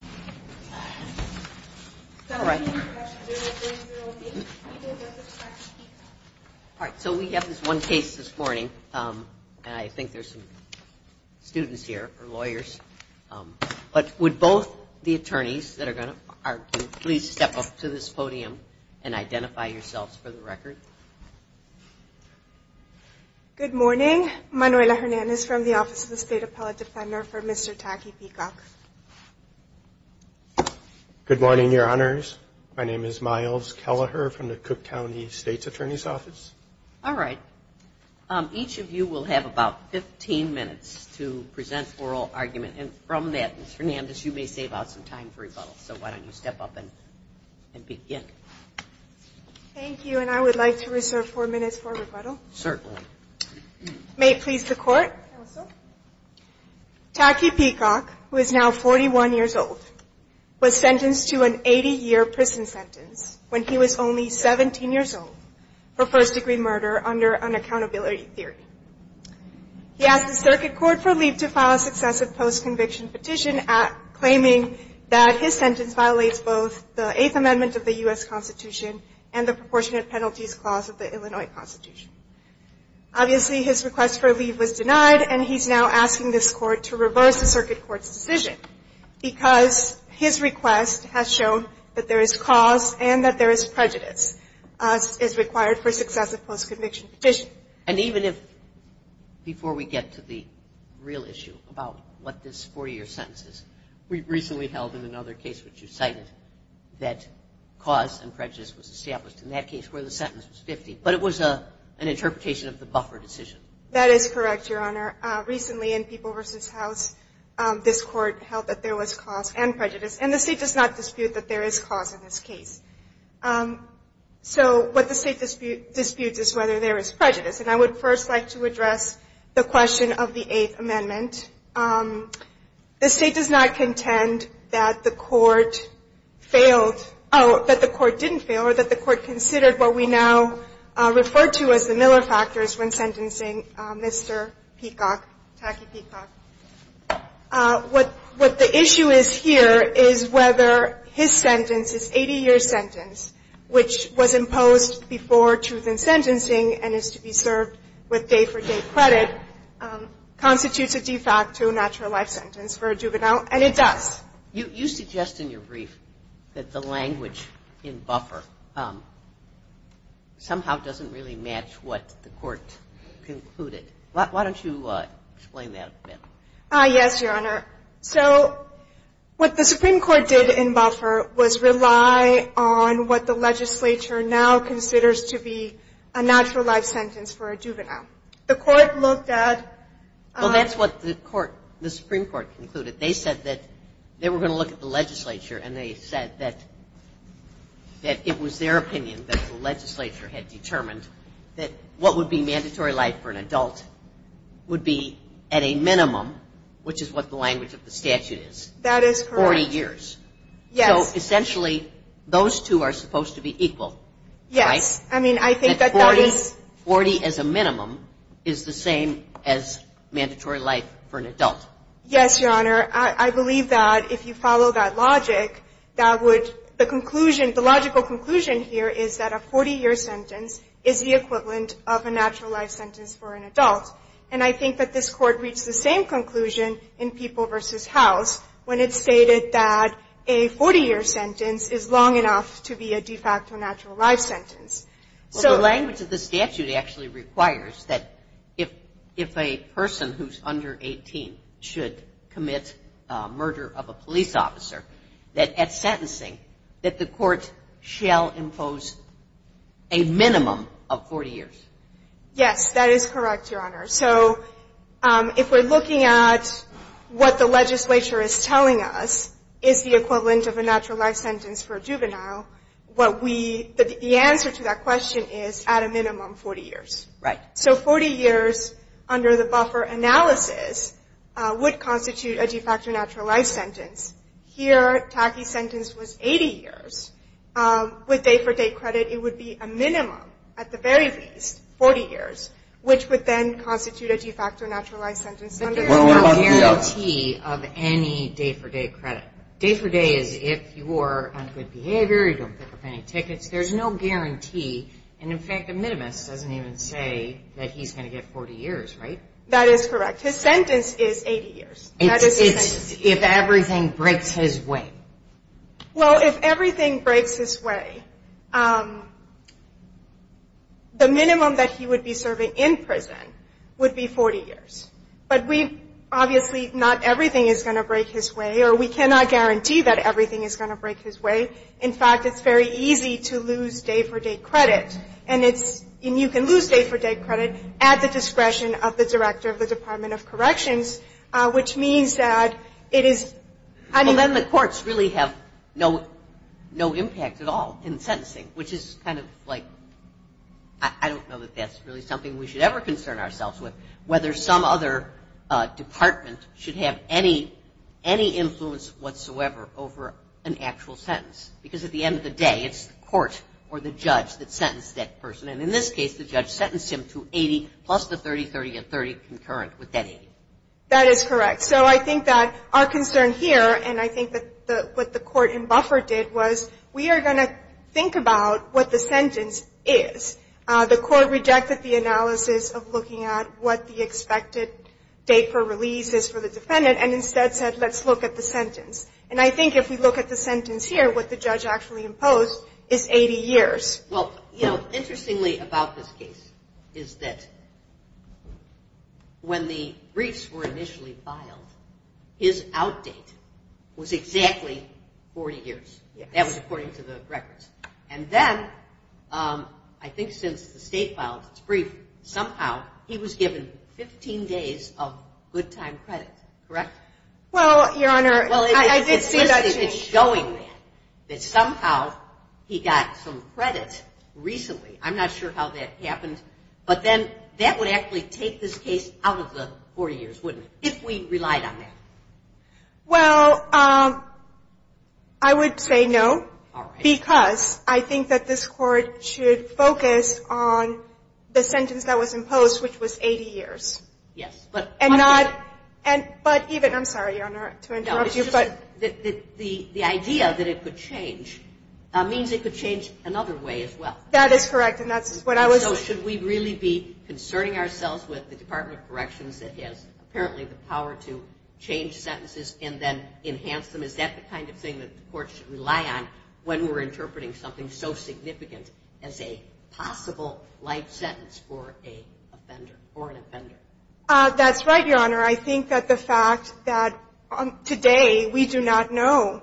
All right, so we have this one case this morning, and I think there's some students here or lawyers. But would both the attorneys that are going to argue please step up to this podium and identify yourselves for the record? Good morning. Manuela Hernandez from the Office of the State Appellate Defender for Mr. Tacky Peacock. Good morning, your honors. My name is Myles Kelleher from the Cook County State's Attorney's Office. All right. Each of you will have about 15 minutes to present oral argument. And from that, Ms. Hernandez, you may save out some time for rebuttal. So why don't you step up and begin. Thank you. And I would like to reserve four minutes for rebuttal. Certainly. May it please the Court. Counsel. Tacky Peacock, who is now 41 years old, was sentenced to an 80-year prison sentence when he was only 17 years old for first-degree murder under unaccountability theory. He asked the Circuit Court for leave to file a successive post-conviction petition, claiming that his sentence violates both the Eighth Amendment of the U.S. Constitution and the Constitution of the United States. And he was sentenced to four years in prison. The Court has now ruled that Mr. Peacock's sentence violates all of the provisions of the U.S. Constitution and the proportionate penalties clause of the Illinois Constitution. Obviously, his request for a leave was denied and he's now asking this Court to reverse the Circuit Court's decision. Because his request has shown that there is cause and that there is prejudice as is required for successive post-conviction petition. And even if, before we get to the real issue about what this four-year sentence is, we recently held in another case which you cited that cause and prejudice was established in that case where the sentence was 50, but it was an interpretation of the buffer decision. That is correct, Your Honor. Recently in People v. House, this Court held that there was cause and prejudice and the State does not dispute that there is cause in this case. So what the State disputes is whether there is prejudice. And I would first like to address the question of the Eighth Amendment. The State does not contend that the Court failed, oh, that the Court didn't fail or that the Court considered what we now refer to as the Miller factors when sentencing Mr. Peacock, Tacky Peacock. What the issue is here is whether his sentence, his 80-year sentence, which was imposed before truth in sentencing and is to be served with day-for-day credit, constitutes a de facto natural life sentence for a juvenile, and it does. You suggest in your brief that the language in buffer somehow doesn't really match what the Court concluded. Why don't you explain that a bit? Yes, Your Honor. So what the Supreme Court did in buffer was rely on what the legislature now considers to be a natural life sentence for a juvenile. Well, that's what the Supreme Court concluded. They said that they were going to look at the legislature and they said that it was their opinion that the legislature had determined that what would be mandatory life for an adult would be at a minimum, which is what the language of the statute is, 40 years. So essentially, those two are supposed to be equal, right? Yes. I mean, I think that that is... That 40 as a minimum is the same as mandatory life for an adult. Yes, Your Honor. I believe that if you follow that logic, that would, the conclusion, the logical conclusion here is that a 40-year sentence is the equivalent of a natural life sentence for an adult. And I think that this Court reached the same conclusion in People v. House when it stated that a 40-year sentence is long enough to be a de facto natural life sentence. Well, the language of the statute actually requires that if a person who's under 18 should commit murder of a police officer, that at sentencing, that the Court shall impose a minimum of 40 years. Yes, that is correct, Your Honor. So if we're looking at what the legislature is telling us is the equivalent of a natural life sentence for a juvenile, what we, the answer to that question is at a minimum 40 years. Right. So 40 years under the buffer analysis would constitute a de facto natural life sentence. Here, Taki's sentence was 80 years. With day-for-day credit, it would be a minimum, at the very least, 40 years, which would then constitute a de facto natural life sentence. There's no guarantee of any day-for-day credit. Day-for-day is if you're on good behavior, you don't pick up any tickets. There's no guarantee. And in fact, the minimus doesn't even say that he's going to get 40 years, right? That is correct. His sentence is 80 years. It's if everything breaks his way. Well, if everything breaks his way, the minimum that he would be serving in prison would be 40 years. But we, obviously, not everything is going to break his way, or we cannot guarantee that everything is going to break his way. In fact, it's very easy to lose day-for-day credit, and it's, and you can lose day-for-day credit at the discretion of the Director of the Department of Corrections, which means that it is. Well, then the courts really have no impact at all in sentencing, which is kind of like, I don't know that that's really something we should ever concern ourselves with, whether some other department should have any influence whatsoever over an actual sentence. Because at the end of the day, it's the court or the judge that sentenced that person. And in this case, the judge sentenced him to 80 plus the 30, 30, and 30 concurrent with that 80. That is correct. So I think that our concern here, and I think that what the court in Buffer did, was we are going to think about what the sentence is. The court rejected the analysis of looking at what the expected date for release is for the defendant, and instead said, let's look at the sentence. And I think if we look at the sentence here, what the judge actually imposed is 80 years. Well, you know, interestingly about this case is that when the briefs were initially filed, his outdate was exactly 40 years. That was according to the records. And then, I think since the state filed its brief, somehow he was given 15 days of good time credit, correct? Well, Your Honor, I did see that change. It's showing that somehow he got some credit recently. I'm not sure how that happened. But then that would actually take this case out of the 40 years, wouldn't it, if we relied on that? Well, I would say no. All right. Because I think that this court should focus on the sentence that was imposed, which was 80 years. Yes. But And not, but even, I'm sorry, Your Honor, to interrupt you, but No, it's just that the idea that it could change means it could change another way as well. That is correct, and that's what I was So should we really be concerning ourselves with the Department of Corrections that has apparently the power to change sentences and then enhance them? Is that the kind of thing that the court should rely on when we're interpreting something so significant as a possible life sentence for a offender or an offender? That's right, Your Honor. I think that the fact that today we do not know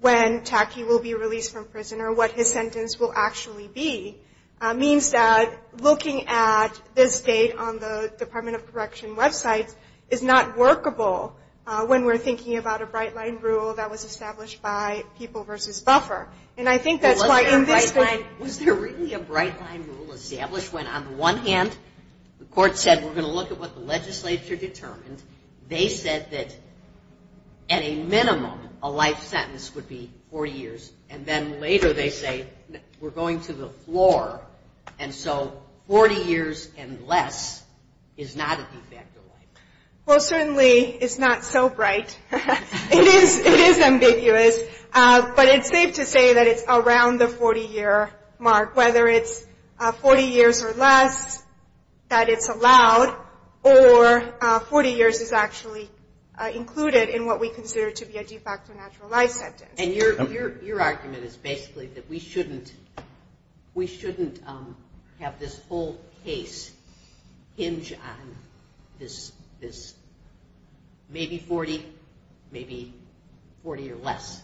when Tacky will be released from prison or what his sentence will actually be means that looking at this date on the Department of Correction websites is not workable when we're thinking about a bright line rule that was established by People v. Buffer. Was there really a bright line rule established when on the one hand the court said we're going to look at what the legislature determined, they said that at a minimum a life sentence would be 40 years, and then later they say we're going to the floor, and so 40 years and less is not a de facto life. Well, certainly it's not so bright. It is ambiguous, but it's safe to say that it's around the 40-year mark, whether it's 40 years or less that it's allowed or 40 years is actually included in what we consider to be a de facto natural life sentence. And your argument is basically that we shouldn't have this whole case hinge on this maybe 40, maybe 40 or less.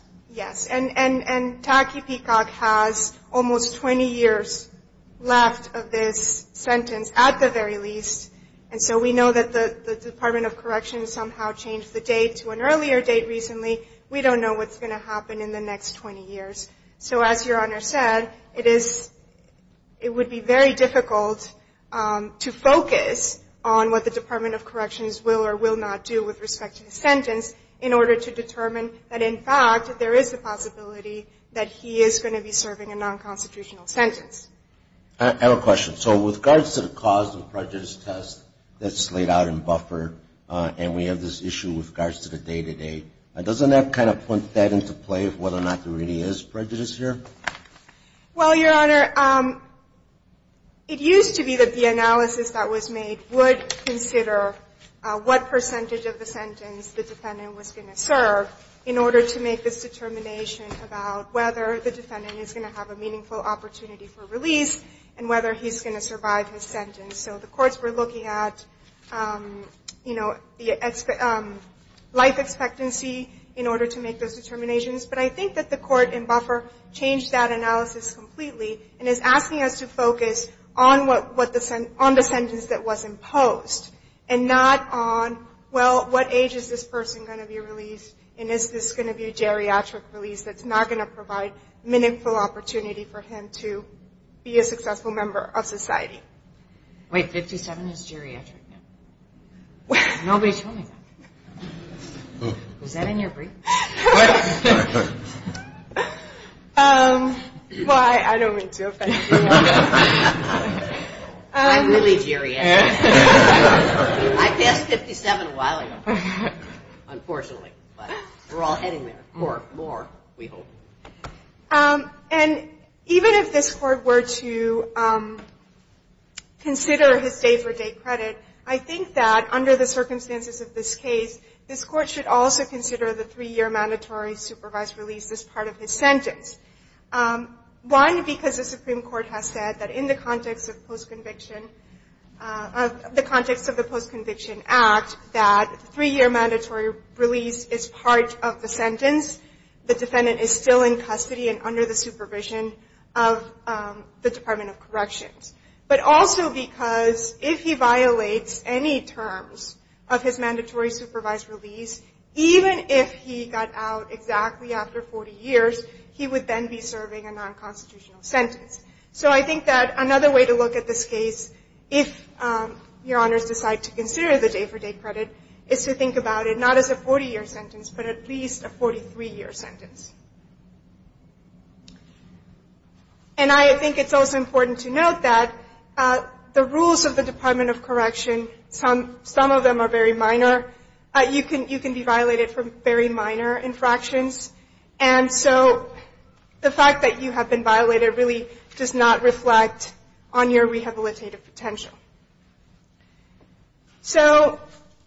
And Tacky Peacock has almost 20 years left of this sentence at the very least, and so we know that the Department of Corrections somehow changed the date to an earlier date recently. We don't know what's going to happen in the next 20 years. So as Your Honor said, it would be very difficult to focus on what the Department of Corrections will or will not do with respect to the sentence in order to determine that in fact there is a possibility that he is going to be serving a nonconstitutional sentence. I have a question. So with regards to the cause and prejudice test that's laid out in buffer, and we have this issue with regards to the day-to-day, doesn't that kind of put that into play of whether or not there really is prejudice here? Well, Your Honor, it used to be that the analysis that was made would consider what percentage of the sentence the defendant was going to serve in order to make this determination about whether the defendant is going to have a meaningful opportunity for release and whether he's going to survive his sentence. So the courts were looking at life expectancy in order to make those determinations, but I think that the court in buffer changed that analysis completely and is asking us to focus on the sentence that was imposed and not on, well, what age is this person going to be released and is this going to be a geriatric release that's not going to provide meaningful opportunity for him to be a successful member of society. Wait, 57 is geriatric now? Nobody told me that. Was that in your brief? Well, I don't mean to offend you, Your Honor. I'm really geriatric. I passed 57 a while ago, unfortunately, but we're all heading there. More, more, we hope. And even if this court were to consider his day-for-day credit, I think that under the circumstances of this case, this court should also consider the three-year mandatory supervised release as part of his sentence. One, because the Supreme Court has said that in the context of post-conviction, the context of the Post-Conviction Act, that three-year mandatory release is part of the sentence. The defendant is still in custody and under the supervision of the Department of Corrections. But also because if he violates any terms of his mandatory supervised release, even if he got out exactly after 40 years, he would then be serving a non-constitutional sentence. So I think that another way to look at this case, if Your Honors decide to consider the day-for-day credit, is to think about it not as a 40-year sentence, but at least a 43-year sentence. And I think it's also important to note that the rules of the Department of Correction, some of them are very minor. You can be violated for very minor infractions, and so the fact that you have been violated really does not reflect on your rehabilitative potential. So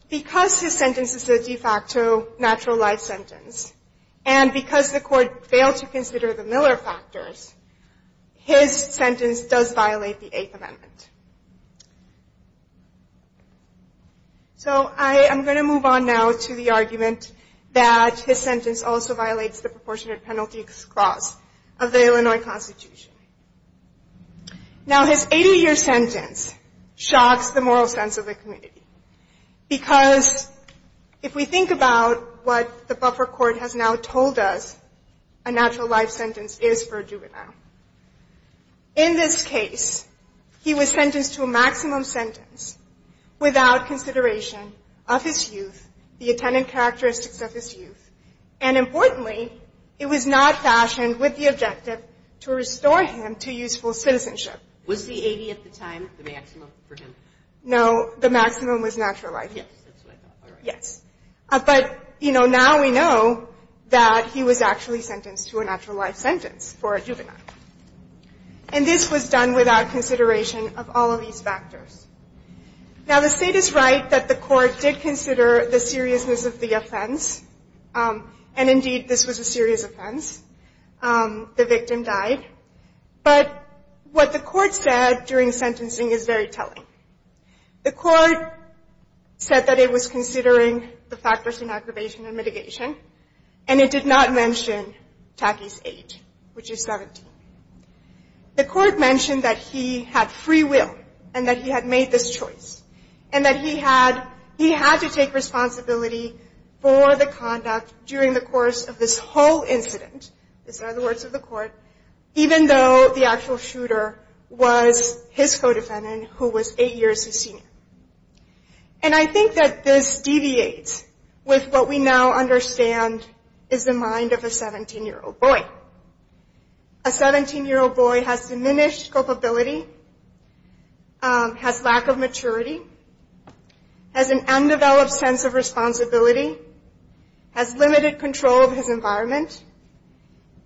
because his sentence is a de facto natural life sentence, and because the court failed to consider the Miller factors, his sentence does violate the Eighth Amendment. So I am going to move on now to the argument that his sentence also violates the Proportionate Penalty Clause of the Illinois Constitution. Now his 80-year sentence shocks the moral sense of the community. Because if we think about what the buffer court has now told us, a natural life sentence is for a juvenile. In this case, he was sentenced to a maximum sentence without consideration of his youth, the attendant characteristics of his youth, and importantly, it was not fashioned with the objective to restore him to his former life. It was not fashioned with the objective to restore him to useful citizenship. Was the 80 at the time the maximum for him? No, the maximum was natural life. Yes, that's what I thought. Yes. But now we know that he was actually sentenced to a natural life sentence for a juvenile. And this was done without consideration of all of these factors. Now the state is right that the court did consider the seriousness of the offense. And indeed, this was a serious offense. The victim died. But what the court said during sentencing is very telling. The court said that it was considering the factors in aggravation and mitigation, and it did not mention Tacky's age, which is 17. The court mentioned that he had free will, and that he had made this choice, and that he had to take responsibility for the conduct during the course of this whole incident. These are the words of the court, even though the actual shooter was his co-defendant, who was eight years his senior. And I think that this deviates with what we now understand is the mind of a 17-year-old boy. A 17-year-old boy. A 17-year-old boy has diminished culpability, has lack of maturity, has an undeveloped sense of responsibility, has limited control of his environment,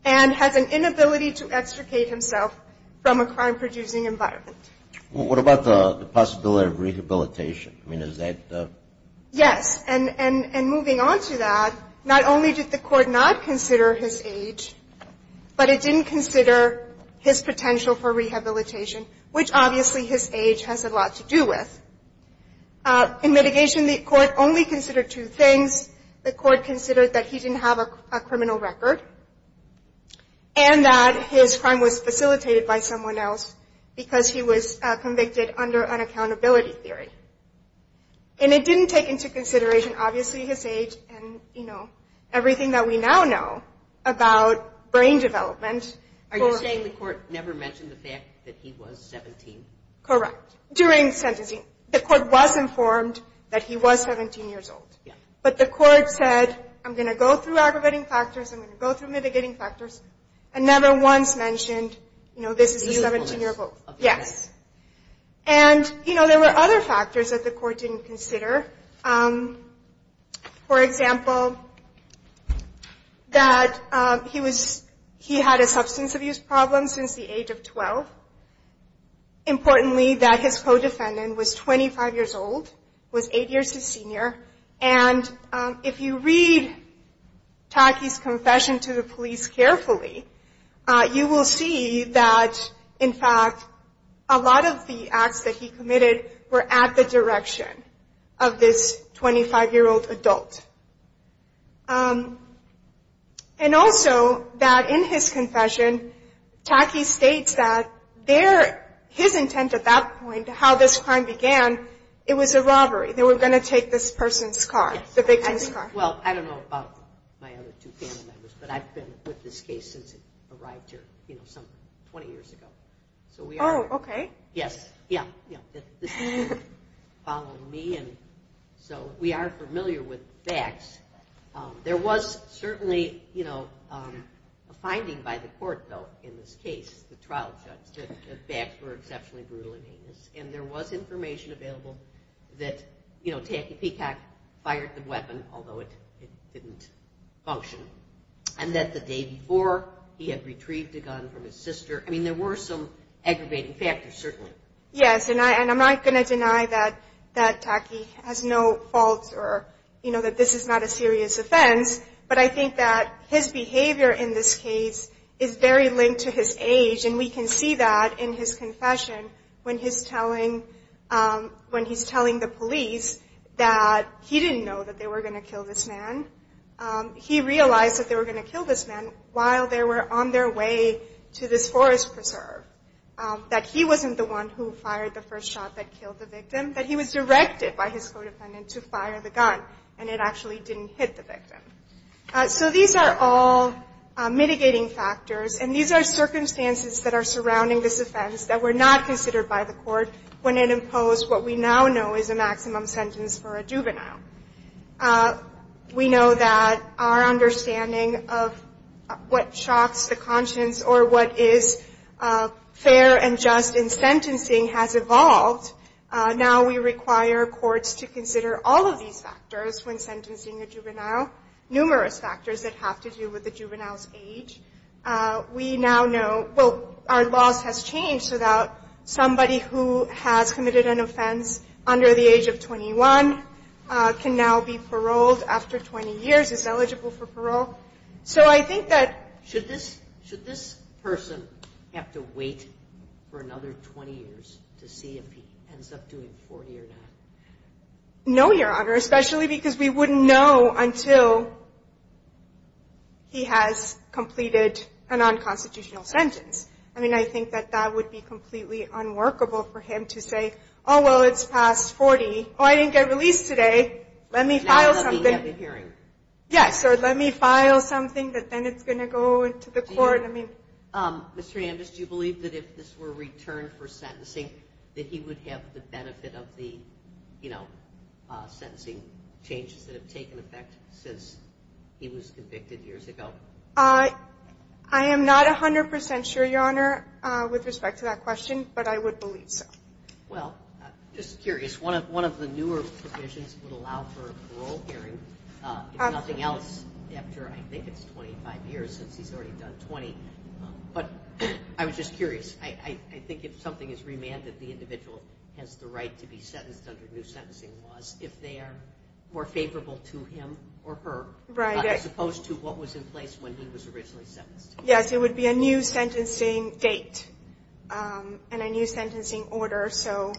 and has an inability to extricate himself from a crime-producing environment. Well, what about the possibility of rehabilitation? I mean, is that the... Well, the court did not consider his potential for rehabilitation, which obviously his age has a lot to do with. In mitigation, the court only considered two things. The court considered that he didn't have a criminal record, and that his crime was facilitated by someone else, because he was convicted under an accountability theory. And it didn't take into consideration, obviously, his age and, you know, everything that we now know about brain development. Are you saying the court never mentioned the fact that he was 17? Correct. During sentencing, the court was informed that he was 17 years old. But the court said, I'm going to go through aggravating factors, I'm going to go through mitigating factors, and never once mentioned, you know, this is a 17-year-old. And, you know, there were other factors that the court didn't consider. For example, that he was, he had a substance abuse problem since the age of 12. Importantly, that his co-defendant was 25 years old, was eight years his senior. And if you read Taki's confession to the police carefully, you will see that, in fact, a lot of the acts that he committed were at the direction of the 25-year-old adult. And also, that in his confession, Taki states that their, his intent at that point, how this crime began, it was a robbery. They were going to take this person's car, the victim's car. Well, I don't know about my other two family members, but I've been with this case since it arrived here, you know, some 20 years ago. Oh, okay. Yes, yeah, yeah. So we are familiar with the facts. There was certainly, you know, a finding by the court, though, in this case, the trial judge, that the facts were exceptionally brutal and heinous. And there was information available that, you know, Taki Peacock fired the weapon, although it didn't function. And that the day before, he had retrieved a gun from his sister. I mean, there were some aggravating factors, certainly. Yes, and I'm not going to deny that Taki has no faults or, you know, that this is not a serious offense. But I think that his behavior in this case is very linked to his age. And we can see that in his confession when he's telling the police that he didn't know that they were going to kill this man. He realized that they were going to kill this man while they were on their way to this forest preserve. That he wasn't the one who fired the first shot that killed the victim. That he was directed by his co-defendant to fire the gun, and it actually didn't hit the victim. So these are all mitigating factors, and these are circumstances that are surrounding this offense that were not considered by the court when it imposed what we now know is a maximum sentence for a juvenile. We know that our understanding of what shocks the conscience or what is fair and just in sentencing has evolved. Now we require courts to consider all of these factors when sentencing a juvenile. Numerous factors that have to do with the juvenile's age. We now know, well, our laws has changed so that somebody who has committed an offense under the age of 21, can now be paroled after 20 years, is eligible for parole. So I think that... Should this person have to wait for another 20 years to see if he ends up doing 40 or not? No, Your Honor, especially because we wouldn't know until he has completed a non-constitutional sentence. I mean, I think that that would be completely unworkable for him to say, oh, well, it's past 40. Oh, I didn't get released today, let me file something. Yes, or let me file something that then it's going to go to the court. Mr. Hernandez, do you believe that if this were returned for sentencing that he would have the benefit of the, you know, sentencing changes that have taken effect since he was convicted years ago? I am not 100 percent sure, Your Honor, with respect to that question, but I would believe so. Well, just curious, one of the newer provisions would allow for a parole hearing, if nothing else, after I think it's 25 years, since he's already done 20. But I was just curious, I think if something is remanded, the individual has the right to be sentenced under new sentencing laws, if they are more favorable to him or her, as opposed to what was in place when he was originally sentenced. Yes, it would be a new sentencing date and a new sentencing order. So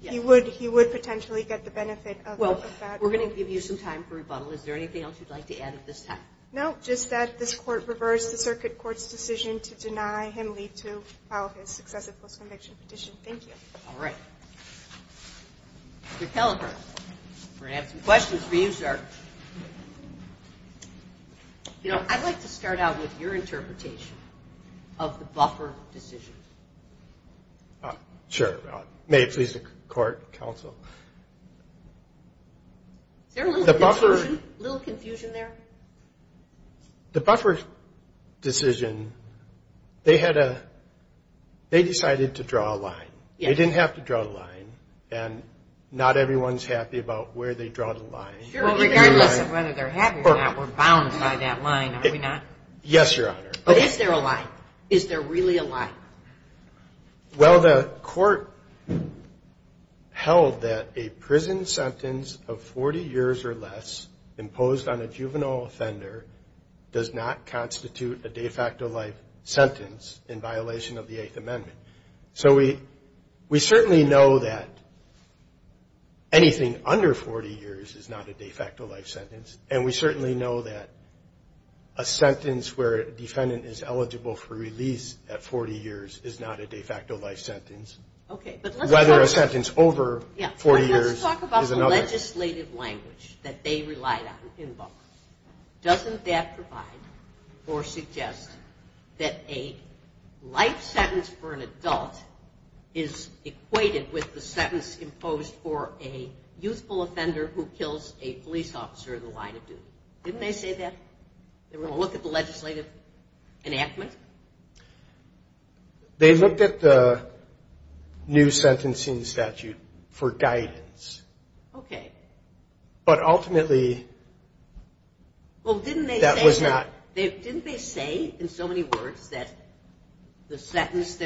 he would potentially get the benefit of that. Well, we're going to give you some time for rebuttal. Is there anything else you'd like to add at this time? No, just that this Court reversed the Circuit Court's decision to deny him leave to file his successive post-conviction petition. Thank you. All right. Mr. Kelleher, we're going to have some questions for you, sir. You know, I'd like to start out with your interpretation of the Buffer decision. Sure. May it please the Court, Counsel? Is there a little confusion there? The Buffer decision, they decided to draw a line. They didn't have to draw the line, and not everyone's happy about where they draw the line. Well, regardless of whether they're happy or not, we're bound by that line, are we not? Yes, Your Honor. But is there a line? Is there really a line? Well, the Court held that a prison sentence of 40 years or less imposed on a juvenile offender does not constitute a de facto life sentence in violation of the Eighth Amendment. So we certainly know that anything under 40 years is not a de facto life sentence, and we certainly know that a sentence where a defendant is eligible for release at 40 years is not a de facto life sentence, whether a sentence over 40 years is another. Let's talk about the legislative language that they relied on in Buffer. Doesn't that provide or suggest that a life sentence for an adult is equated with the sentence imposed for a youthful offender who kills a police officer in the line of duty? Didn't they say that? They were going to look at the legislative enactment? They looked at the new sentencing statute for guidance. Okay. But ultimately that was not... Well, didn't they say in so many words that the sentence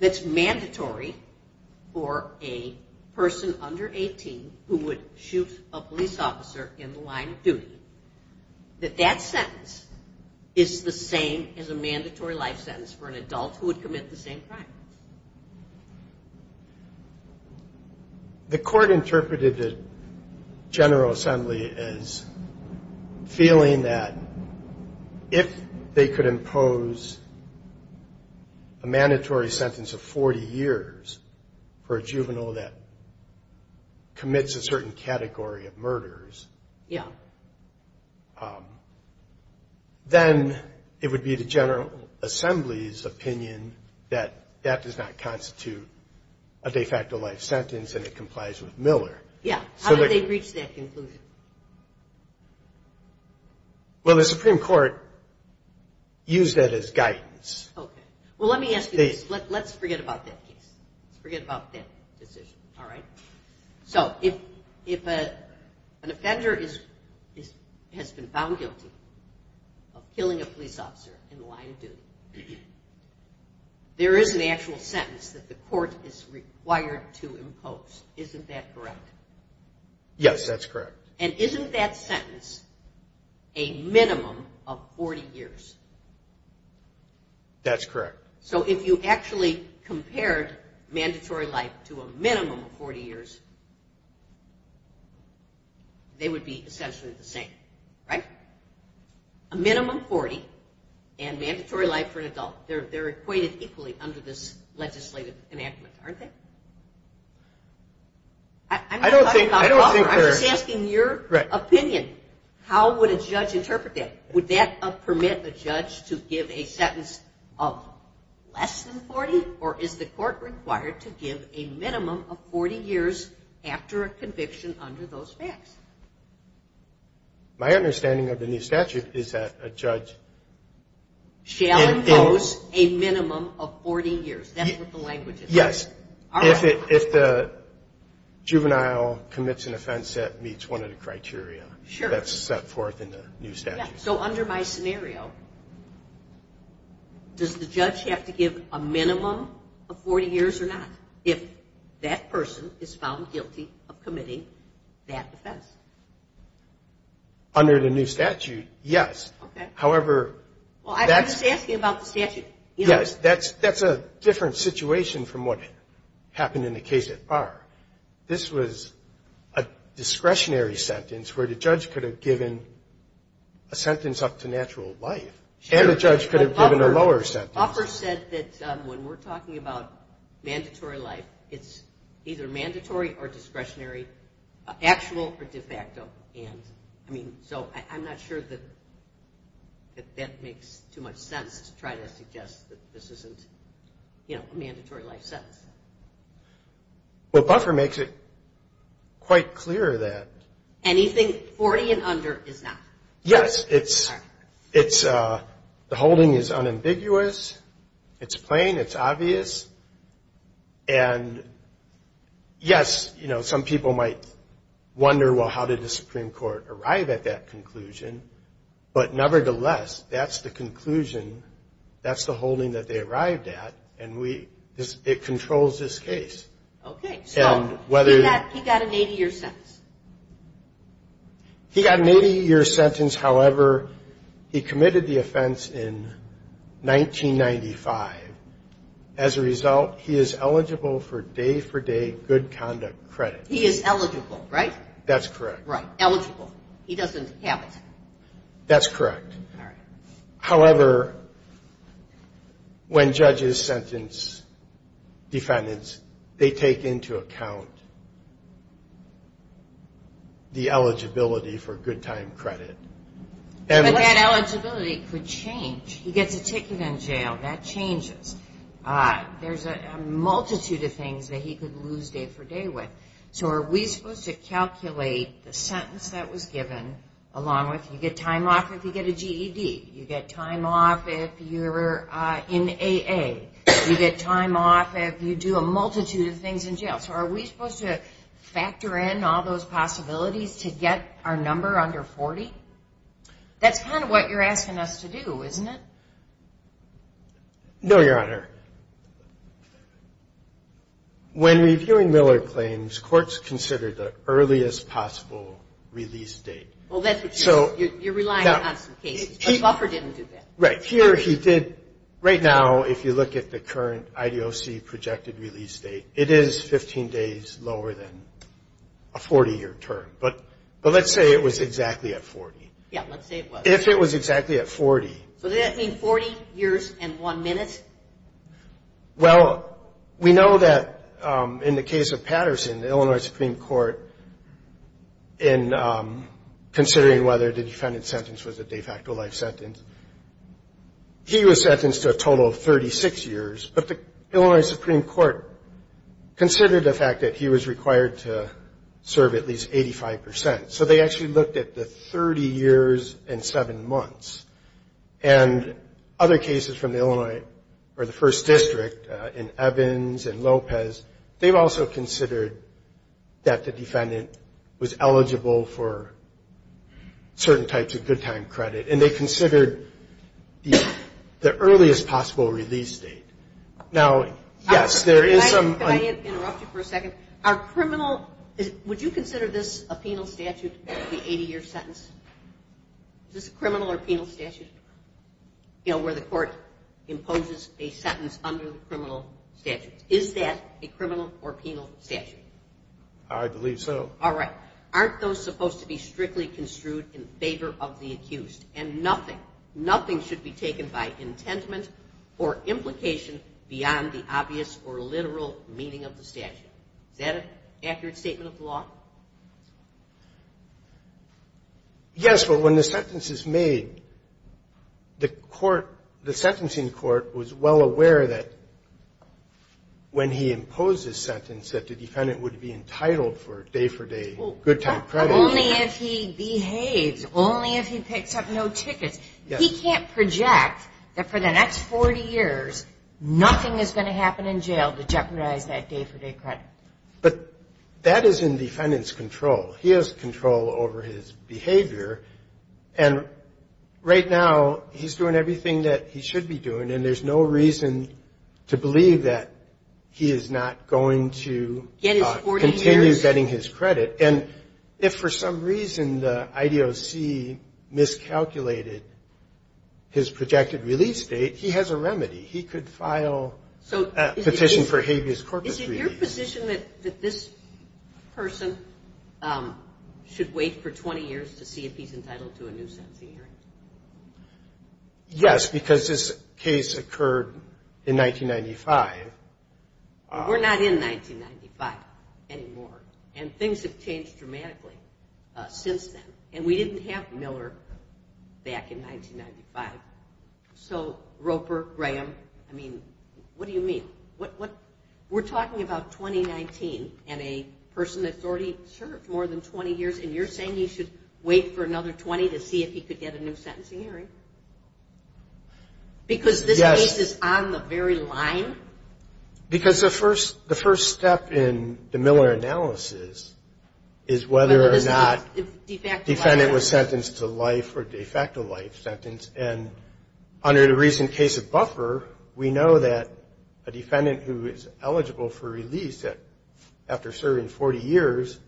that's mandatory for a person under 18 who would shoot a police officer in the line of duty, that that sentence is the same as a mandatory life sentence for an adult who would commit the same crime? The court interpreted the General Assembly as feeling that if they could impose a mandatory sentence of 40 years for a juvenile that commits a certain category of murders, then it would be the General Assembly's opinion that that does not constitute a de facto life sentence, and it could be a life sentence. Yeah, how did they reach that conclusion? Well, the Supreme Court used that as guidance. Let's forget about that case. If an offender has been found guilty of killing a police officer in the line of duty, there is an actual sentence that the court is required to impose. Isn't that correct? Yes, that's correct. And isn't that sentence a minimum of 40 years? That's correct. So if you actually compared mandatory life to a minimum of 40 years, they would be essentially the same, right? A minimum 40 and mandatory life for an adult. They're equated equally under this legislative enactment, aren't they? I'm not talking about the offender. I'm just asking your opinion. How would a judge interpret that? Would that permit a judge to give a sentence of less than 40? Or is the court required to give a minimum of 40 years after a conviction under those facts? My understanding of the new statute is that a judge shall impose a minimum of 40 years. That's what the language is. Yes, if the juvenile commits an offense that meets one of the criteria that's set forth in the new statute. So under my scenario, does the judge have to give a minimum of 40 years or not if that person is found guilty of committing that offense? Under the new statute, yes. I'm just asking about the statute. That's a different situation from what happened in the case at Barr. This was a discretionary sentence where the judge could have given a sentence up to natural life. And the judge could have given a lower sentence. Offer said that when we're talking about mandatory life, it's either mandatory or discretionary, actual or de facto. So I'm not sure that that makes too much sense to try to suggest that this isn't a mandatory life sentence. Buffer makes it quite clear that anything 40 and under is not. Yes, the holding is unambiguous. It's plain. It's obvious. And yes, some people might wonder, well, how did the Supreme Court arrive at that conclusion? But nevertheless, that's the conclusion. That's the holding that they arrived at, and it controls this case. He got an 80-year sentence. He got an 80-year sentence. However, he committed the offense in 1995. As a result, he is eligible for day-for-day good conduct credit. He is eligible, right? That's correct. Right, eligible. He doesn't have it. That's correct. However, when judges sentence defendants, they take into account the eligibility for good-time credit. But that eligibility could change. He gets a ticket in jail. That changes. There's a multitude of things that he could lose day-for-day with. So are we supposed to calculate the sentence that was given, along with you get time off if you get a GED. You get time off if you're in AA. You get time off if you do a multitude of things in jail. So are we supposed to factor in all those possibilities to get our number under 40? That's kind of what you're asking us to do, isn't it? No, Your Honor. When reviewing Miller claims, courts consider the earliest possible release date. You're relying on some cases, but Buffer didn't do that. Right now, if you look at the current IDOC projected release date, it is 15 days lower than a 40-year term. But let's say it was exactly at 40. Yeah, let's say it was. If it was exactly at 40. So does that mean 40 years and 1 minute? Well, we know that in the case of Patterson, the Illinois Supreme Court, in considering whether the defendant's sentence was a de facto life sentence, he was sentenced to a total of 36 years. But the Illinois Supreme Court considered the fact that he was required to serve at least 85 percent. So they actually looked at the 30 years and 7 months. And other cases from the Illinois, or the 1st District, in Evans and Lopez, they've also considered that the defendant was eligible for certain types of good time credit. And they considered the earliest possible release date. Now, yes, there is some... Can I interrupt you for a second? Are criminal – would you consider this a penal statute, the 80-year sentence? Is this a criminal or penal statute? You know, where the court imposes a sentence under the criminal statute. Is that a criminal or penal statute? I believe so. All right. Yes, but when the sentence is made, the court – the sentencing court was well aware that when he imposed his sentence that the defendant would be entitled for day-for-day good time credit. Only if he behaves. Only if he picks up no tickets. He can't project that for the next 40 years nothing is going to happen in jail to jeopardize that day-for-day credit. But that is in defendant's control. He has control over his behavior, and right now he's doing everything that he should be doing, and there's no reason to believe that he is not going to continue getting his credit. And if for some reason the IDOC miscalculated his projected release date, he has a remedy. He could file a petition for habeas corpus release. Is it your position that this person should wait for 20 years to see if he's entitled to a new sentencing hearing? Yes, because this case occurred in 1995. We're not in 1995 anymore, and things have changed dramatically since then. And we didn't have Miller back in 1995. So Roper, Graham, I mean, what do you mean? We're talking about 2019, and a person that's already served more than 20 years, and you're saying he should wait for another 20 to see if he could get a new sentencing hearing? Because this case is on the very line? Because the first step in the Miller analysis is whether or not the defendant was sentenced to life or de facto life sentence, and under the recent case of Buffer, we know that a defendant who is eligible for release after serving 40 years,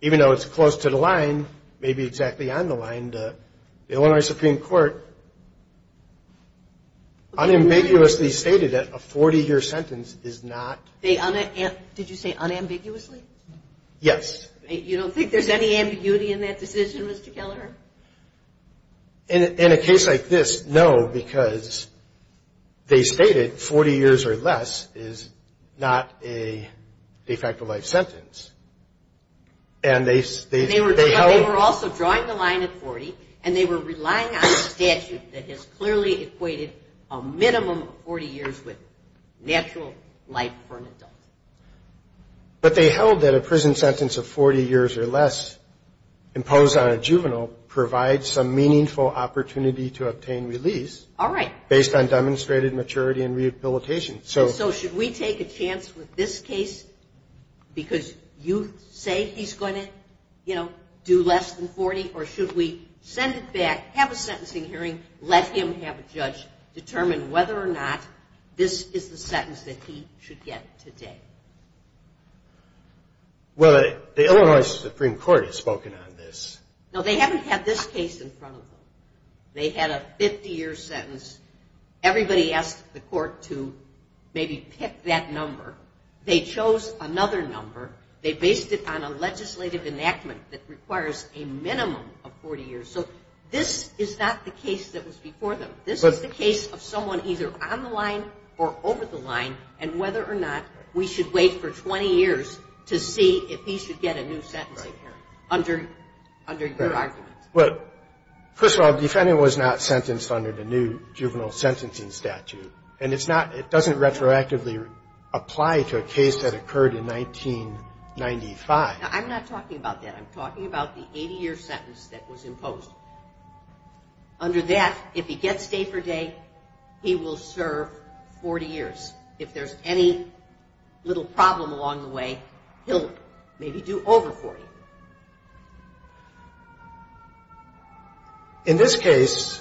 even though it's close to the line, maybe exactly on the line, the Illinois Supreme Court unambiguously stated that a 40-year sentence is not... Did you say unambiguously? Yes. You don't think there's any ambiguity in that decision, Mr. Kelleher? In a case like this, no, because they stated 40 years or less is not a de facto life sentence. And they held... They were also drawing the line at 40, and they were relying on a statute that has clearly equated a minimum of 40 years with natural life for an adult. But they held that a prison sentence of 40 years or less imposed on a juvenile provides some meaningful opportunity to obtain release based on demonstrated maturity and rehabilitation. So should we take a chance with this case because you say he's going to, you know, do less than 40, or should we send it back, have a sentencing hearing, let him have a judge determine whether or not this is the sentence that he should get today? Well, the Illinois Supreme Court has spoken on this. No, they haven't had this case in front of them. They had a 50-year sentence. Everybody asked the court to maybe pick that number. They chose another number. They based it on a legislative enactment that requires a minimum of 40 years. So this is not the case that was before them. This is the case of someone either on the line or over the line and whether or not we should wait for 20 years to see if he should get a new sentencing hearing under your argument. Well, first of all, the defendant was not sentenced under the new juvenile sentencing statute, and it's not, it doesn't retroactively apply to a case that occurred in 1995. Now, I'm not talking about that. I'm talking about the 80-year sentence that was imposed. Under that, if he gets day for day, he will serve 40 years. If there's any little problem along the way, he'll maybe do over 40. In this case,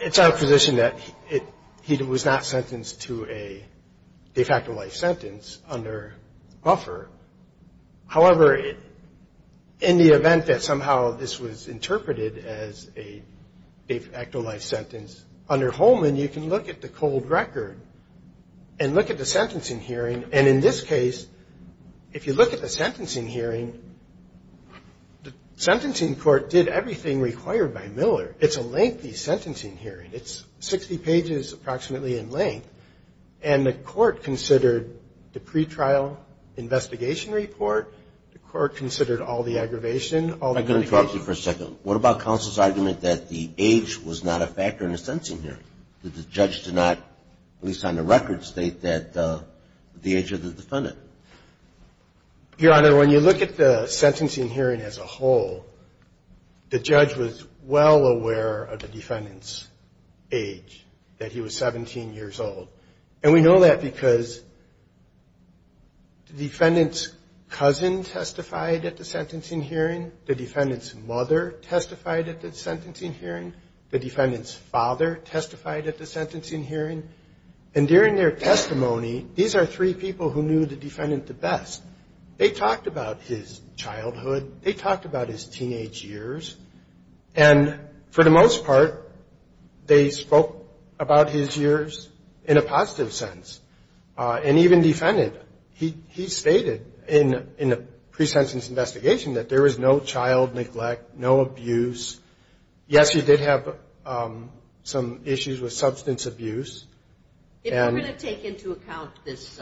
it's our position that he was not sentenced to a de facto life sentence under Buffer. However, in the event that somehow this was interpreted as a de facto life sentence under Holman, you can look at the cold record and look at the sentencing hearing. And in this case, if you look at the sentencing hearing, the sentencing court did everything required by Miller. It's a lengthy sentencing hearing. It's 60 pages approximately in length, and the court considered the pretrial investigation report. The court considered all the aggravation, all the litigation. I'm going to ask you for a second. What about counsel's argument that the age was not a factor in the sentencing hearing, that the judge did not, at least on the record, state that the age of the defendant? Your Honor, when you look at the sentencing hearing as a whole, the judge was well aware of the defendant's age, that he was 17 years old. And we know that because the defendant's cousin testified at the sentencing hearing. The defendant's mother testified at the sentencing hearing. The defendant's father testified at the sentencing hearing. And during their testimony, these are three people who knew the defendant the best. They talked about his childhood. They talked about his teenage years. And for the most part, they spoke about his years in a positive sense, and even defended. He stated in the presentence investigation that there was no child neglect, no abuse. Yes, he did have some issues with substance abuse. If we're going to take into account this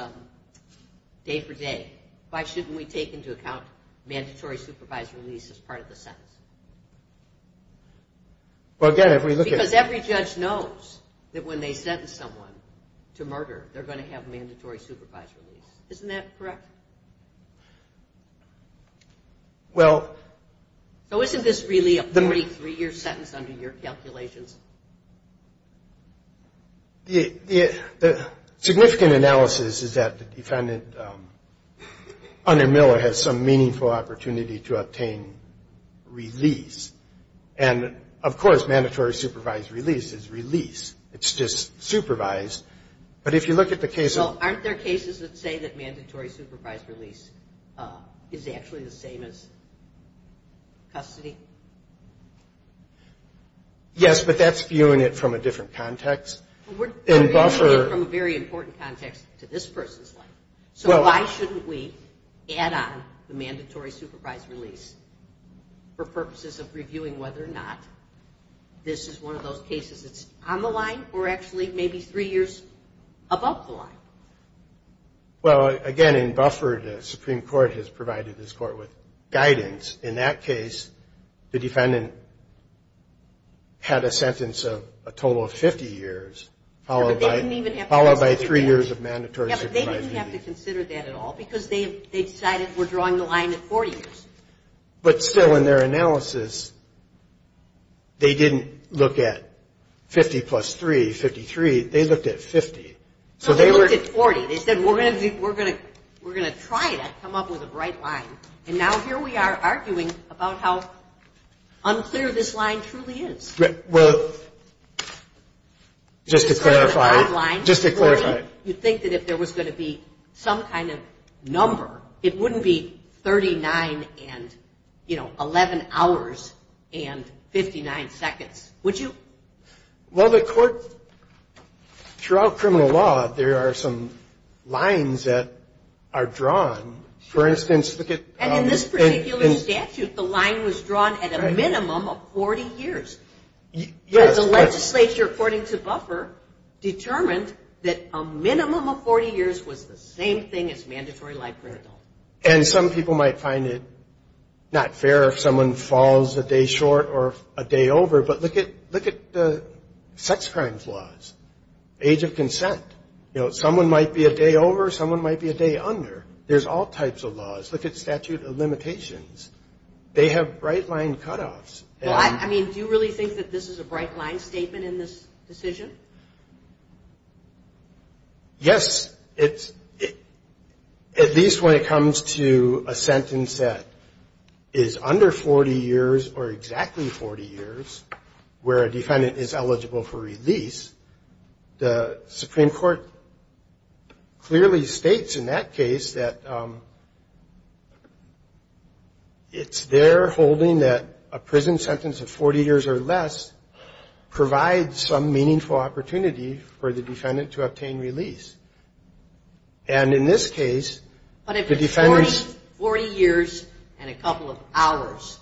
day for day, why shouldn't we take into account mandatory supervisory release as part of the sentence? Because every judge knows that when they sentence someone to murder, they're going to have mandatory supervisory release. Isn't that correct? Well... So isn't this really a 43-year sentence under your calculations? The significant analysis is that the defendant, under Miller, has some meaningful opportunity to obtain release. And, of course, mandatory supervised release is release. It's just supervised. But if you look at the case of... Well, aren't there cases that say that mandatory supervised release is actually the same as custody? Yes, but that's viewing it from a different context. We're viewing it from a very important context to this person's life. So why shouldn't we add on the mandatory supervised release for purposes of reviewing whether or not this is one of those cases that's on the line or actually maybe three years above the line? Well, again, in Bufford, the Supreme Court has provided this court with guidance. In that case, the defendant had a sentence of a total of 50 years, followed by three years of mandatory supervised release. Yeah, but they didn't have to consider that at all because they decided we're drawing the line at 40 years. But still, in their analysis, they didn't look at 50 plus 3, 53. They looked at 50. So they looked at 40. They said, we're going to try to come up with a bright line. And now here we are arguing about how unclear this line truly is. Well, just to clarify. You think that if there was going to be some kind of number, it wouldn't be 39 and 11 hours and 59 seconds, would you? Well, the court, throughout criminal law, there are some lines that are drawn. And in this particular statute, the line was drawn at a minimum of 40 years. The legislature, according to Bufford, determined that a minimum of 40 years was the same thing as mandatory life imprisonment. And some people might find it not fair if someone falls a day short or a day over. But look at sex crimes laws, age of consent. You know, someone might be a day over, someone might be a day under. There's all types of laws. Look at statute of limitations. They have bright line cutoffs. I mean, do you really think that this is a bright line statement in this decision? Yes, at least when it comes to a sentence that is under 40 years or exactly 40 years where a defendant is eligible for release. The Supreme Court clearly states in that case that it's their holding that a prison sentence of 40 years or less provides some meaningful opportunity for the defendant to obtain release. And in this case, the defendants- But if it's 40 years and a couple of hours,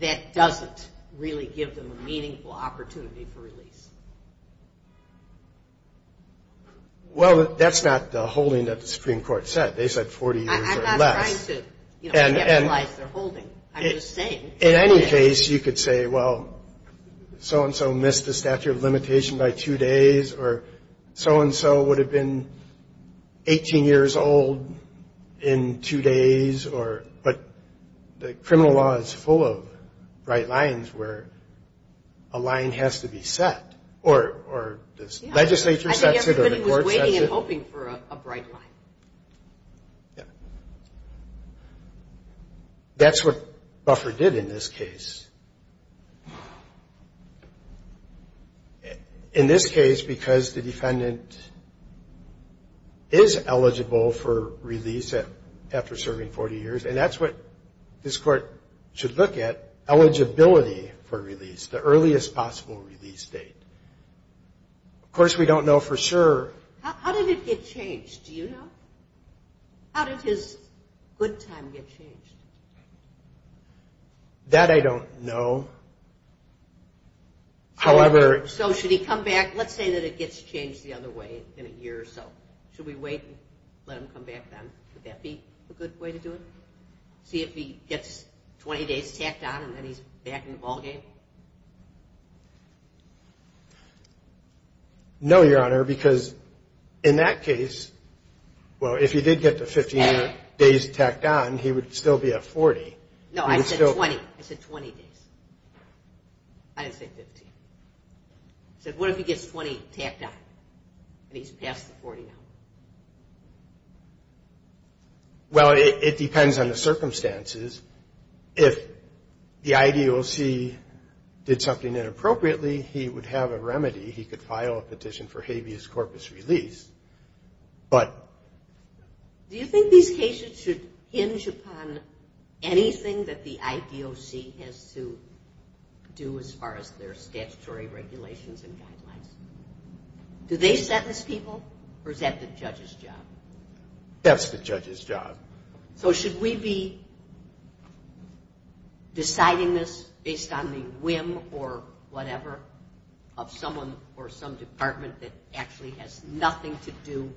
that doesn't really give them a meaningful opportunity for release. Well, that's not the holding that the Supreme Court said. They said 40 years or less. I'm not trying to, you know, capitalize their holding. I'm just saying. In any case, you could say, well, so-and-so missed the statute of limitation by two days, or so-and-so would have been 18 years old in two days, but the criminal law is full of bright lines where a line has to be set. Or this legislature sets it, or the court sets it. I think everybody was waiting and hoping for a bright line. That's what Buffer did in this case. In this case, because the defendant is eligible for release after serving 40 years, and that's what this court should look at, eligibility for release, the earliest possible release date. Of course, we don't know for sure. How did it get changed? Do you know? How did his good time get changed? That I don't know. However- So should he come back? Let's say that it gets changed the other way in a year or so. Should we wait and let him come back then? Would that be a good way to do it? See if he gets 20 days tacked on and then he's back in the ballgame? No, Your Honor, because in that case, well, if he did get the 15 days tacked on, he would still be at 40. No, I said 20. I said 20 days. I didn't say 15. I said, what if he gets 20 tacked on and he's past the 40 now? Well, it depends on the circumstances. If the IDOC did something inappropriately, he would have a remedy. He could file a petition for habeas corpus release, but- Do you think these cases should hinge upon anything that the IDOC has to do as far as their statutory regulations and guidelines? Do they sentence people or is that the judge's job? That's the judge's job. So should we be deciding this based on the whim or whatever of someone or some department that actually has nothing to do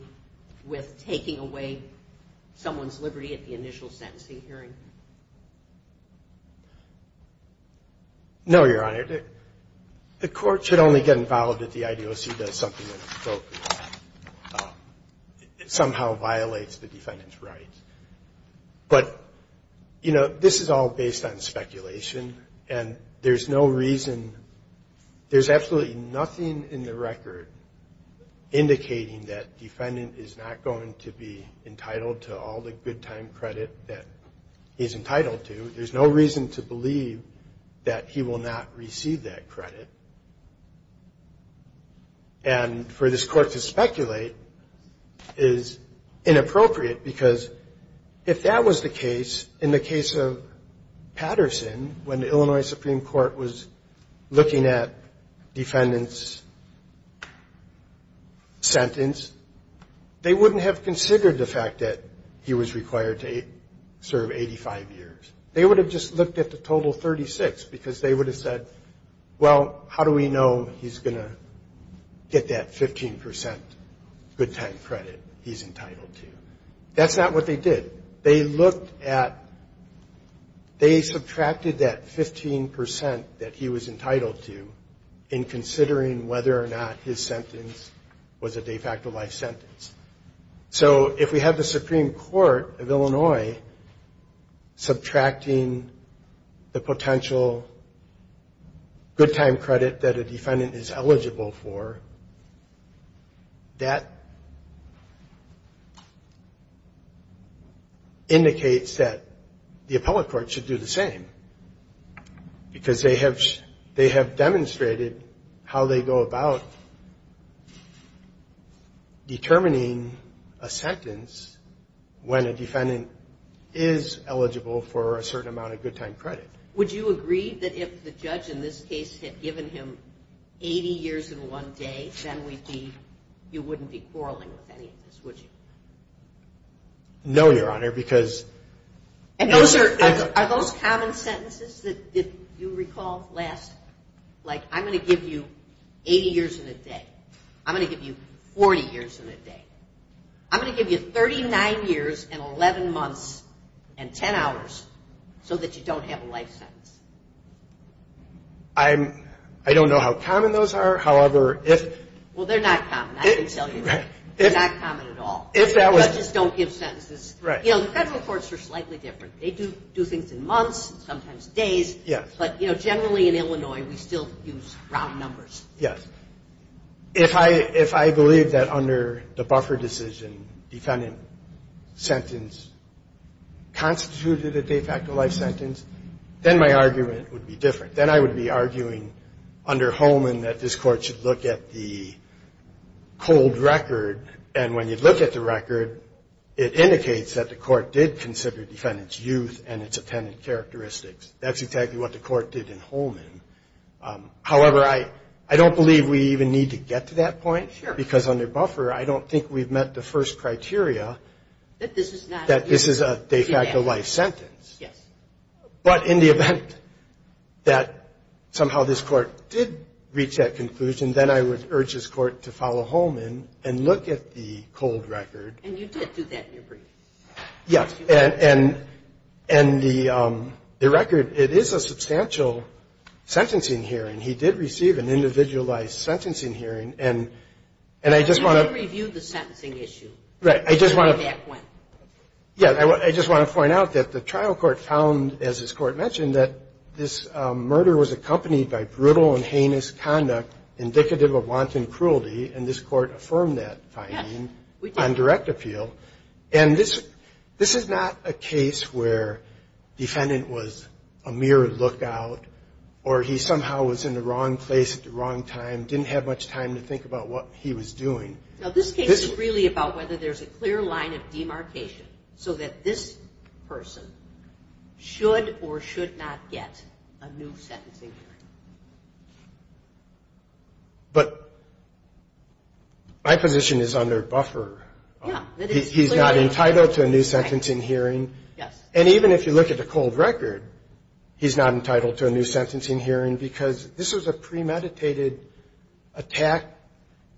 with taking away someone's liberty at the initial sentencing hearing? No, Your Honor. The court should only get involved if the IDOC does something inappropriate. It somehow violates the defendant's rights. But, you know, this is all based on speculation, and there's no reason, there's absolutely nothing in the record indicating that defendant is not going to be entitled to all the good time credit that he's entitled to. There's no reason to believe that he will not receive that credit. And for this court to speculate is inappropriate because if that was the case in the case of Patterson, when the Illinois Supreme Court was looking at defendant's sentence, they wouldn't have considered the fact that he was required to serve 85 years. They would have just looked at the total 36 because they would have said, well, how do we know he's going to get that 15 percent good time credit he's entitled to? That's not what they did. They looked at, they subtracted that 15 percent that he was entitled to in considering whether or not his sentence was a de facto life sentence. So if we have the Supreme Court of Illinois subtracting the potential good time credit that a defendant is eligible for, that indicates that the appellate court should do the same. Because they have demonstrated how they go about determining a sentence when a defendant is eligible for a certain amount of good time credit. Would you agree that if the judge in this case had given him 80 years in one day, then you wouldn't be quarreling with any of this, would you? No, Your Honor, because And are those common sentences that you recall last? Like, I'm going to give you 80 years in a day. I'm going to give you 40 years in a day. I'm going to give you 39 years and 11 months and 10 hours so that you don't have a life sentence. I don't know how common those are. However, if Well, they're not common, I can tell you that. They're not common at all. Judges don't give sentences. Federal courts are slightly different. They do things in months, sometimes days. But generally in Illinois, we still use round numbers. Yes. If I believe that under the buffer decision, defendant sentence constituted a de facto life sentence, then my argument would be different. Then I would be arguing under Holman that this court should look at the cold record, and when you look at the record, it indicates that the court did consider defendant's youth and its attendant characteristics. That's exactly what the court did in Holman. However, I don't believe we even need to get to that point because under buffer, I don't think we've met the first criteria that this is a de facto life sentence. Yes. But in the event that somehow this court did reach that conclusion, then I would urge this court to follow Holman and look at the cold record. And you did do that in your briefings. Yes. And the record, it is a substantial sentencing hearing. He did receive an individualized sentencing hearing, and I just want to – But you did review the sentencing issue. Right. I just want to point out that the trial court found, as this court mentioned, that this murder was accompanied by brutal and heinous conduct indicative of wanton cruelty, and this court affirmed that finding on direct appeal. And this is not a case where defendant was a mere lookout or he somehow was in the wrong place at the wrong time, didn't have much time to think about what he was doing. No, this case is really about whether there's a clear line of demarcation so that this person should or should not get a new sentencing hearing. But my position is under buffer. Yeah. He's not entitled to a new sentencing hearing. Yes. And even if you look at the cold record, he's not entitled to a new sentencing hearing because this was a premeditated attack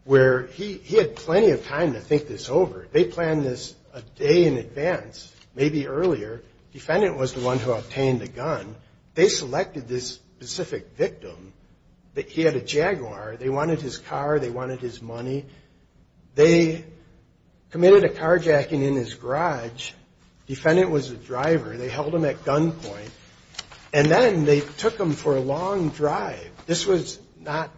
where he had plenty of time to think this over. They planned this a day in advance, maybe earlier. Defendant was the one who obtained the gun. They selected this specific victim. He had a Jaguar. They wanted his car. They wanted his money. They committed a carjacking in his garage. Defendant was the driver. They held him at gunpoint. And then they took him for a long drive. This was not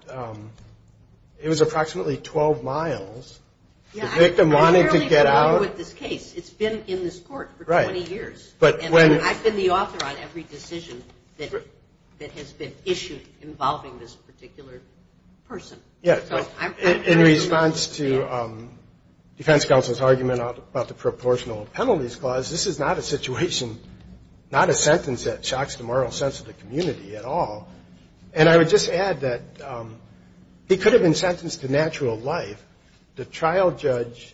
– it was approximately 12 miles. Yeah. The victim wanted to get out. I'm fairly familiar with this case. It's been in this court for 20 years. Right. But when – And I've been the author on every decision that has been issued involving this particular person. Yeah. So I'm – In response to defense counsel's argument about the proportional penalties clause, this is not a situation, not a sentence that shocks the moral sense of the community at all. And I would just add that he could have been sentenced to natural life. The trial judge,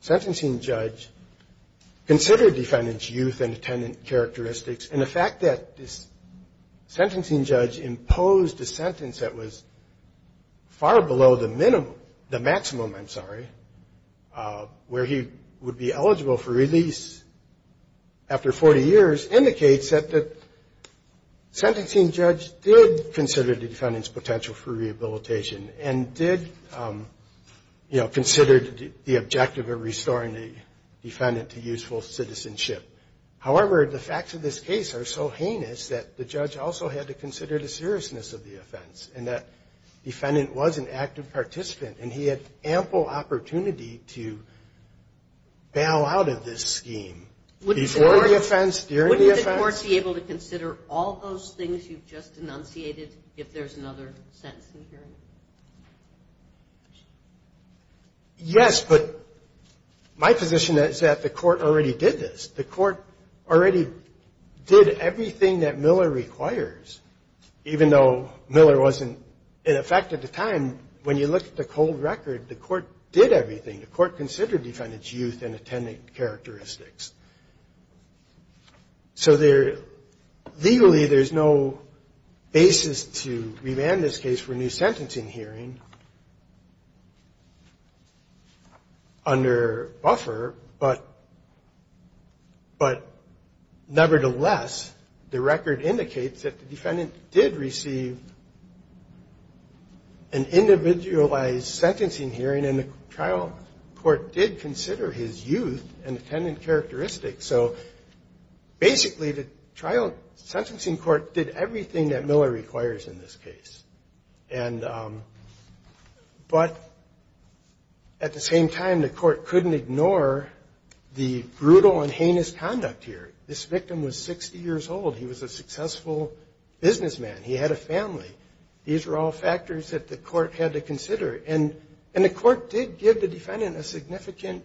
sentencing judge, considered defendant's youth and attendant characteristics. And the fact that this sentencing judge imposed a sentence that was far below the minimum – the maximum, I'm sorry, where he would be eligible for release after 40 years, indicates that the sentencing judge did consider the defendant's potential for rehabilitation and did, you know, consider the objective of restoring the defendant to useful citizenship. However, the facts of this case are so heinous that the judge also had to consider the seriousness of the offense and that defendant was an active participant, and he had ample opportunity to bail out of this scheme before the offense, during the offense. Wouldn't the courts be able to consider all those things you've just enunciated if there's another sentence in here? Yes, but my position is that the court already did this. Even though Miller wasn't in effect at the time, when you look at the cold record, the court did everything. The court considered defendant's youth and attendant characteristics. So there – legally, there's no basis to remand this case for new sentencing hearing under buffer, but nevertheless, the record indicates that the defendant did receive an individualized sentencing hearing and the trial court did consider his youth and attendant characteristics. So basically, the trial sentencing court did everything that Miller requires in this case. And – but at the same time, the court couldn't ignore the brutal and heinous conduct here. This victim was 60 years old. He was a successful businessman. He had a family. These were all factors that the court had to consider, and the court did give the defendant a significant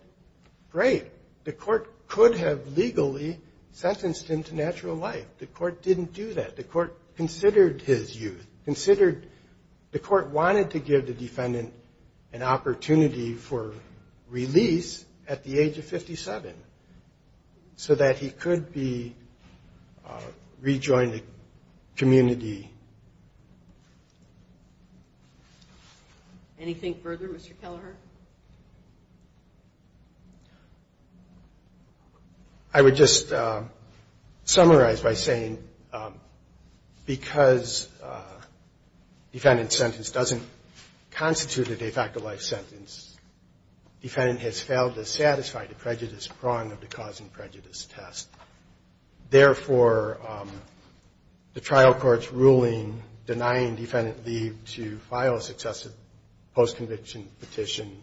grade. The court could have legally sentenced him to natural life. The court didn't do that. The court considered his youth, considered – the court wanted to give the defendant an opportunity for release at the age of 57 so that he could be – rejoin the community. Anything further, Mr. Kelleher? I would just summarize by saying because defendant's sentence doesn't constitute a de facto life sentence, defendant has failed to satisfy the prejudice prong of the cause and prejudice test. Therefore, the trial court's ruling denying defendant leave to file a successive post-conviction petition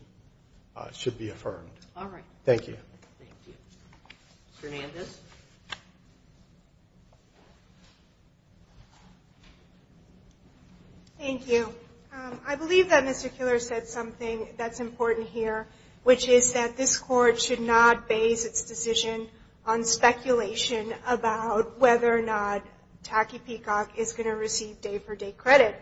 should be affirmed. All right. Thank you. Thank you. Ms. Hernandez? Thank you. I believe that Mr. Keller said something that's important here, which is that this court should not base its decision on speculation about whether or not Tacky Peacock is going to receive day-for-day credit.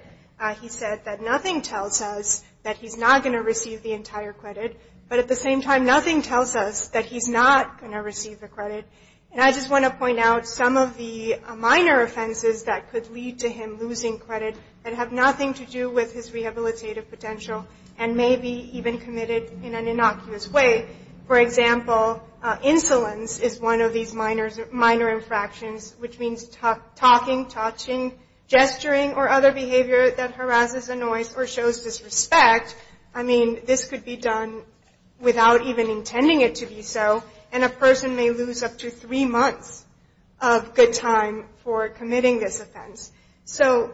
He said that nothing tells us that he's not going to receive the entire credit, but at the same time, nothing tells us that he's not going to receive the credit. And I just want to point out some of the minor offenses that could lead to him losing credit that have nothing to do with his rehabilitative potential and may be even committed in an innocuous way. For example, insolence is one of these minor infractions, which means talking, touching, gesturing, or other behavior that harasses, annoys, or shows disrespect. I mean, this could be done without even intending it to be so, and a person may lose up to three months of good time for committing this offense. So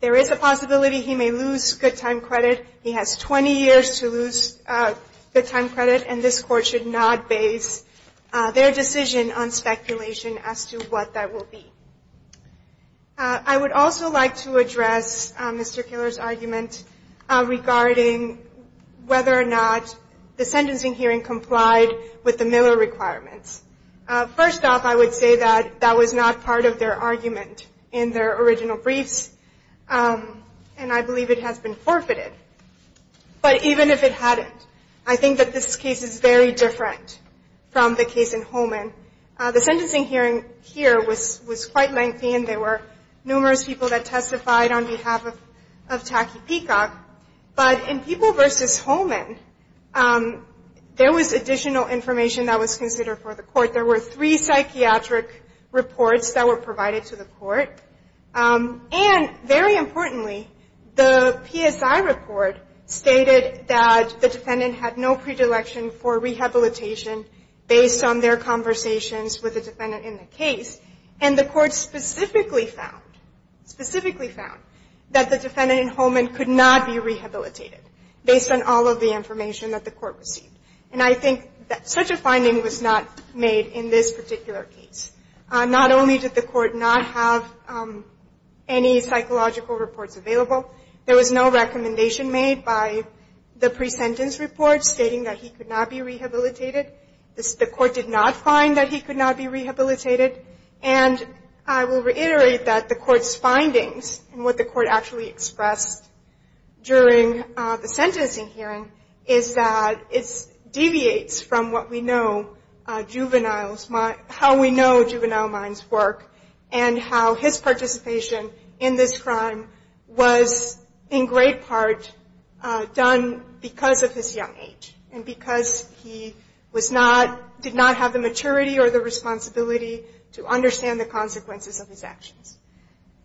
there is a possibility he may lose good time credit. He has 20 years to lose good time credit, and this court should not base their decision on speculation as to what that will be. I would also like to address Mr. Keller's argument regarding whether or not the sentencing hearing complied with the Miller requirements. First off, I would say that that was not part of their argument in their original briefs, and I believe it has been forfeited. But even if it hadn't, I think that this case is very different from the case in Holman. The sentencing hearing here was quite lengthy, and there were numerous people that testified on behalf of Tacky Peacock, but in People v. Holman, there was additional information that was considered for the court. There were three psychiatric reports that were provided to the court, and very importantly, the PSI report stated that the defendant had no predilection for rehabilitation based on their conversations with the defendant in the case, and the court specifically found that the defendant in Holman could not be rehabilitated based on all of the information that the court received. And I think that such a finding was not made in this particular case. Not only did the court not have any psychological reports available, there was no recommendation made by the pre-sentence report stating that he could not be rehabilitated. The court did not find that he could not be rehabilitated. And I will reiterate that the court's findings, and what the court actually expressed during the sentencing hearing, is that it deviates from how we know juvenile minds work, and how his participation in this crime was in great part done because of his young age, and because he did not have the maturity or the responsibility to understand the consequences of his actions.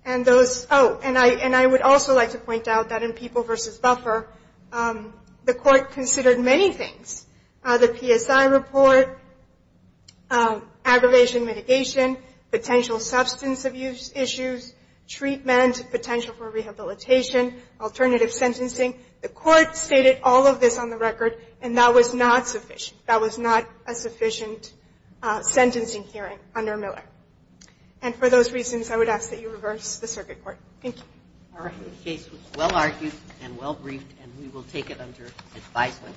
And those, oh, and I would also like to point out that in People v. Buffer, the court considered many things. The PSI report, aggravation mitigation, potential substance abuse issues, treatment, potential for rehabilitation, alternative sentencing. The court stated all of this on the record, and that was not sufficient. That was not a sufficient sentencing hearing under Miller. And for those reasons, I would ask that you reverse the circuit court. Thank you. All right. The case was well argued and well briefed, and we will take it under advisement.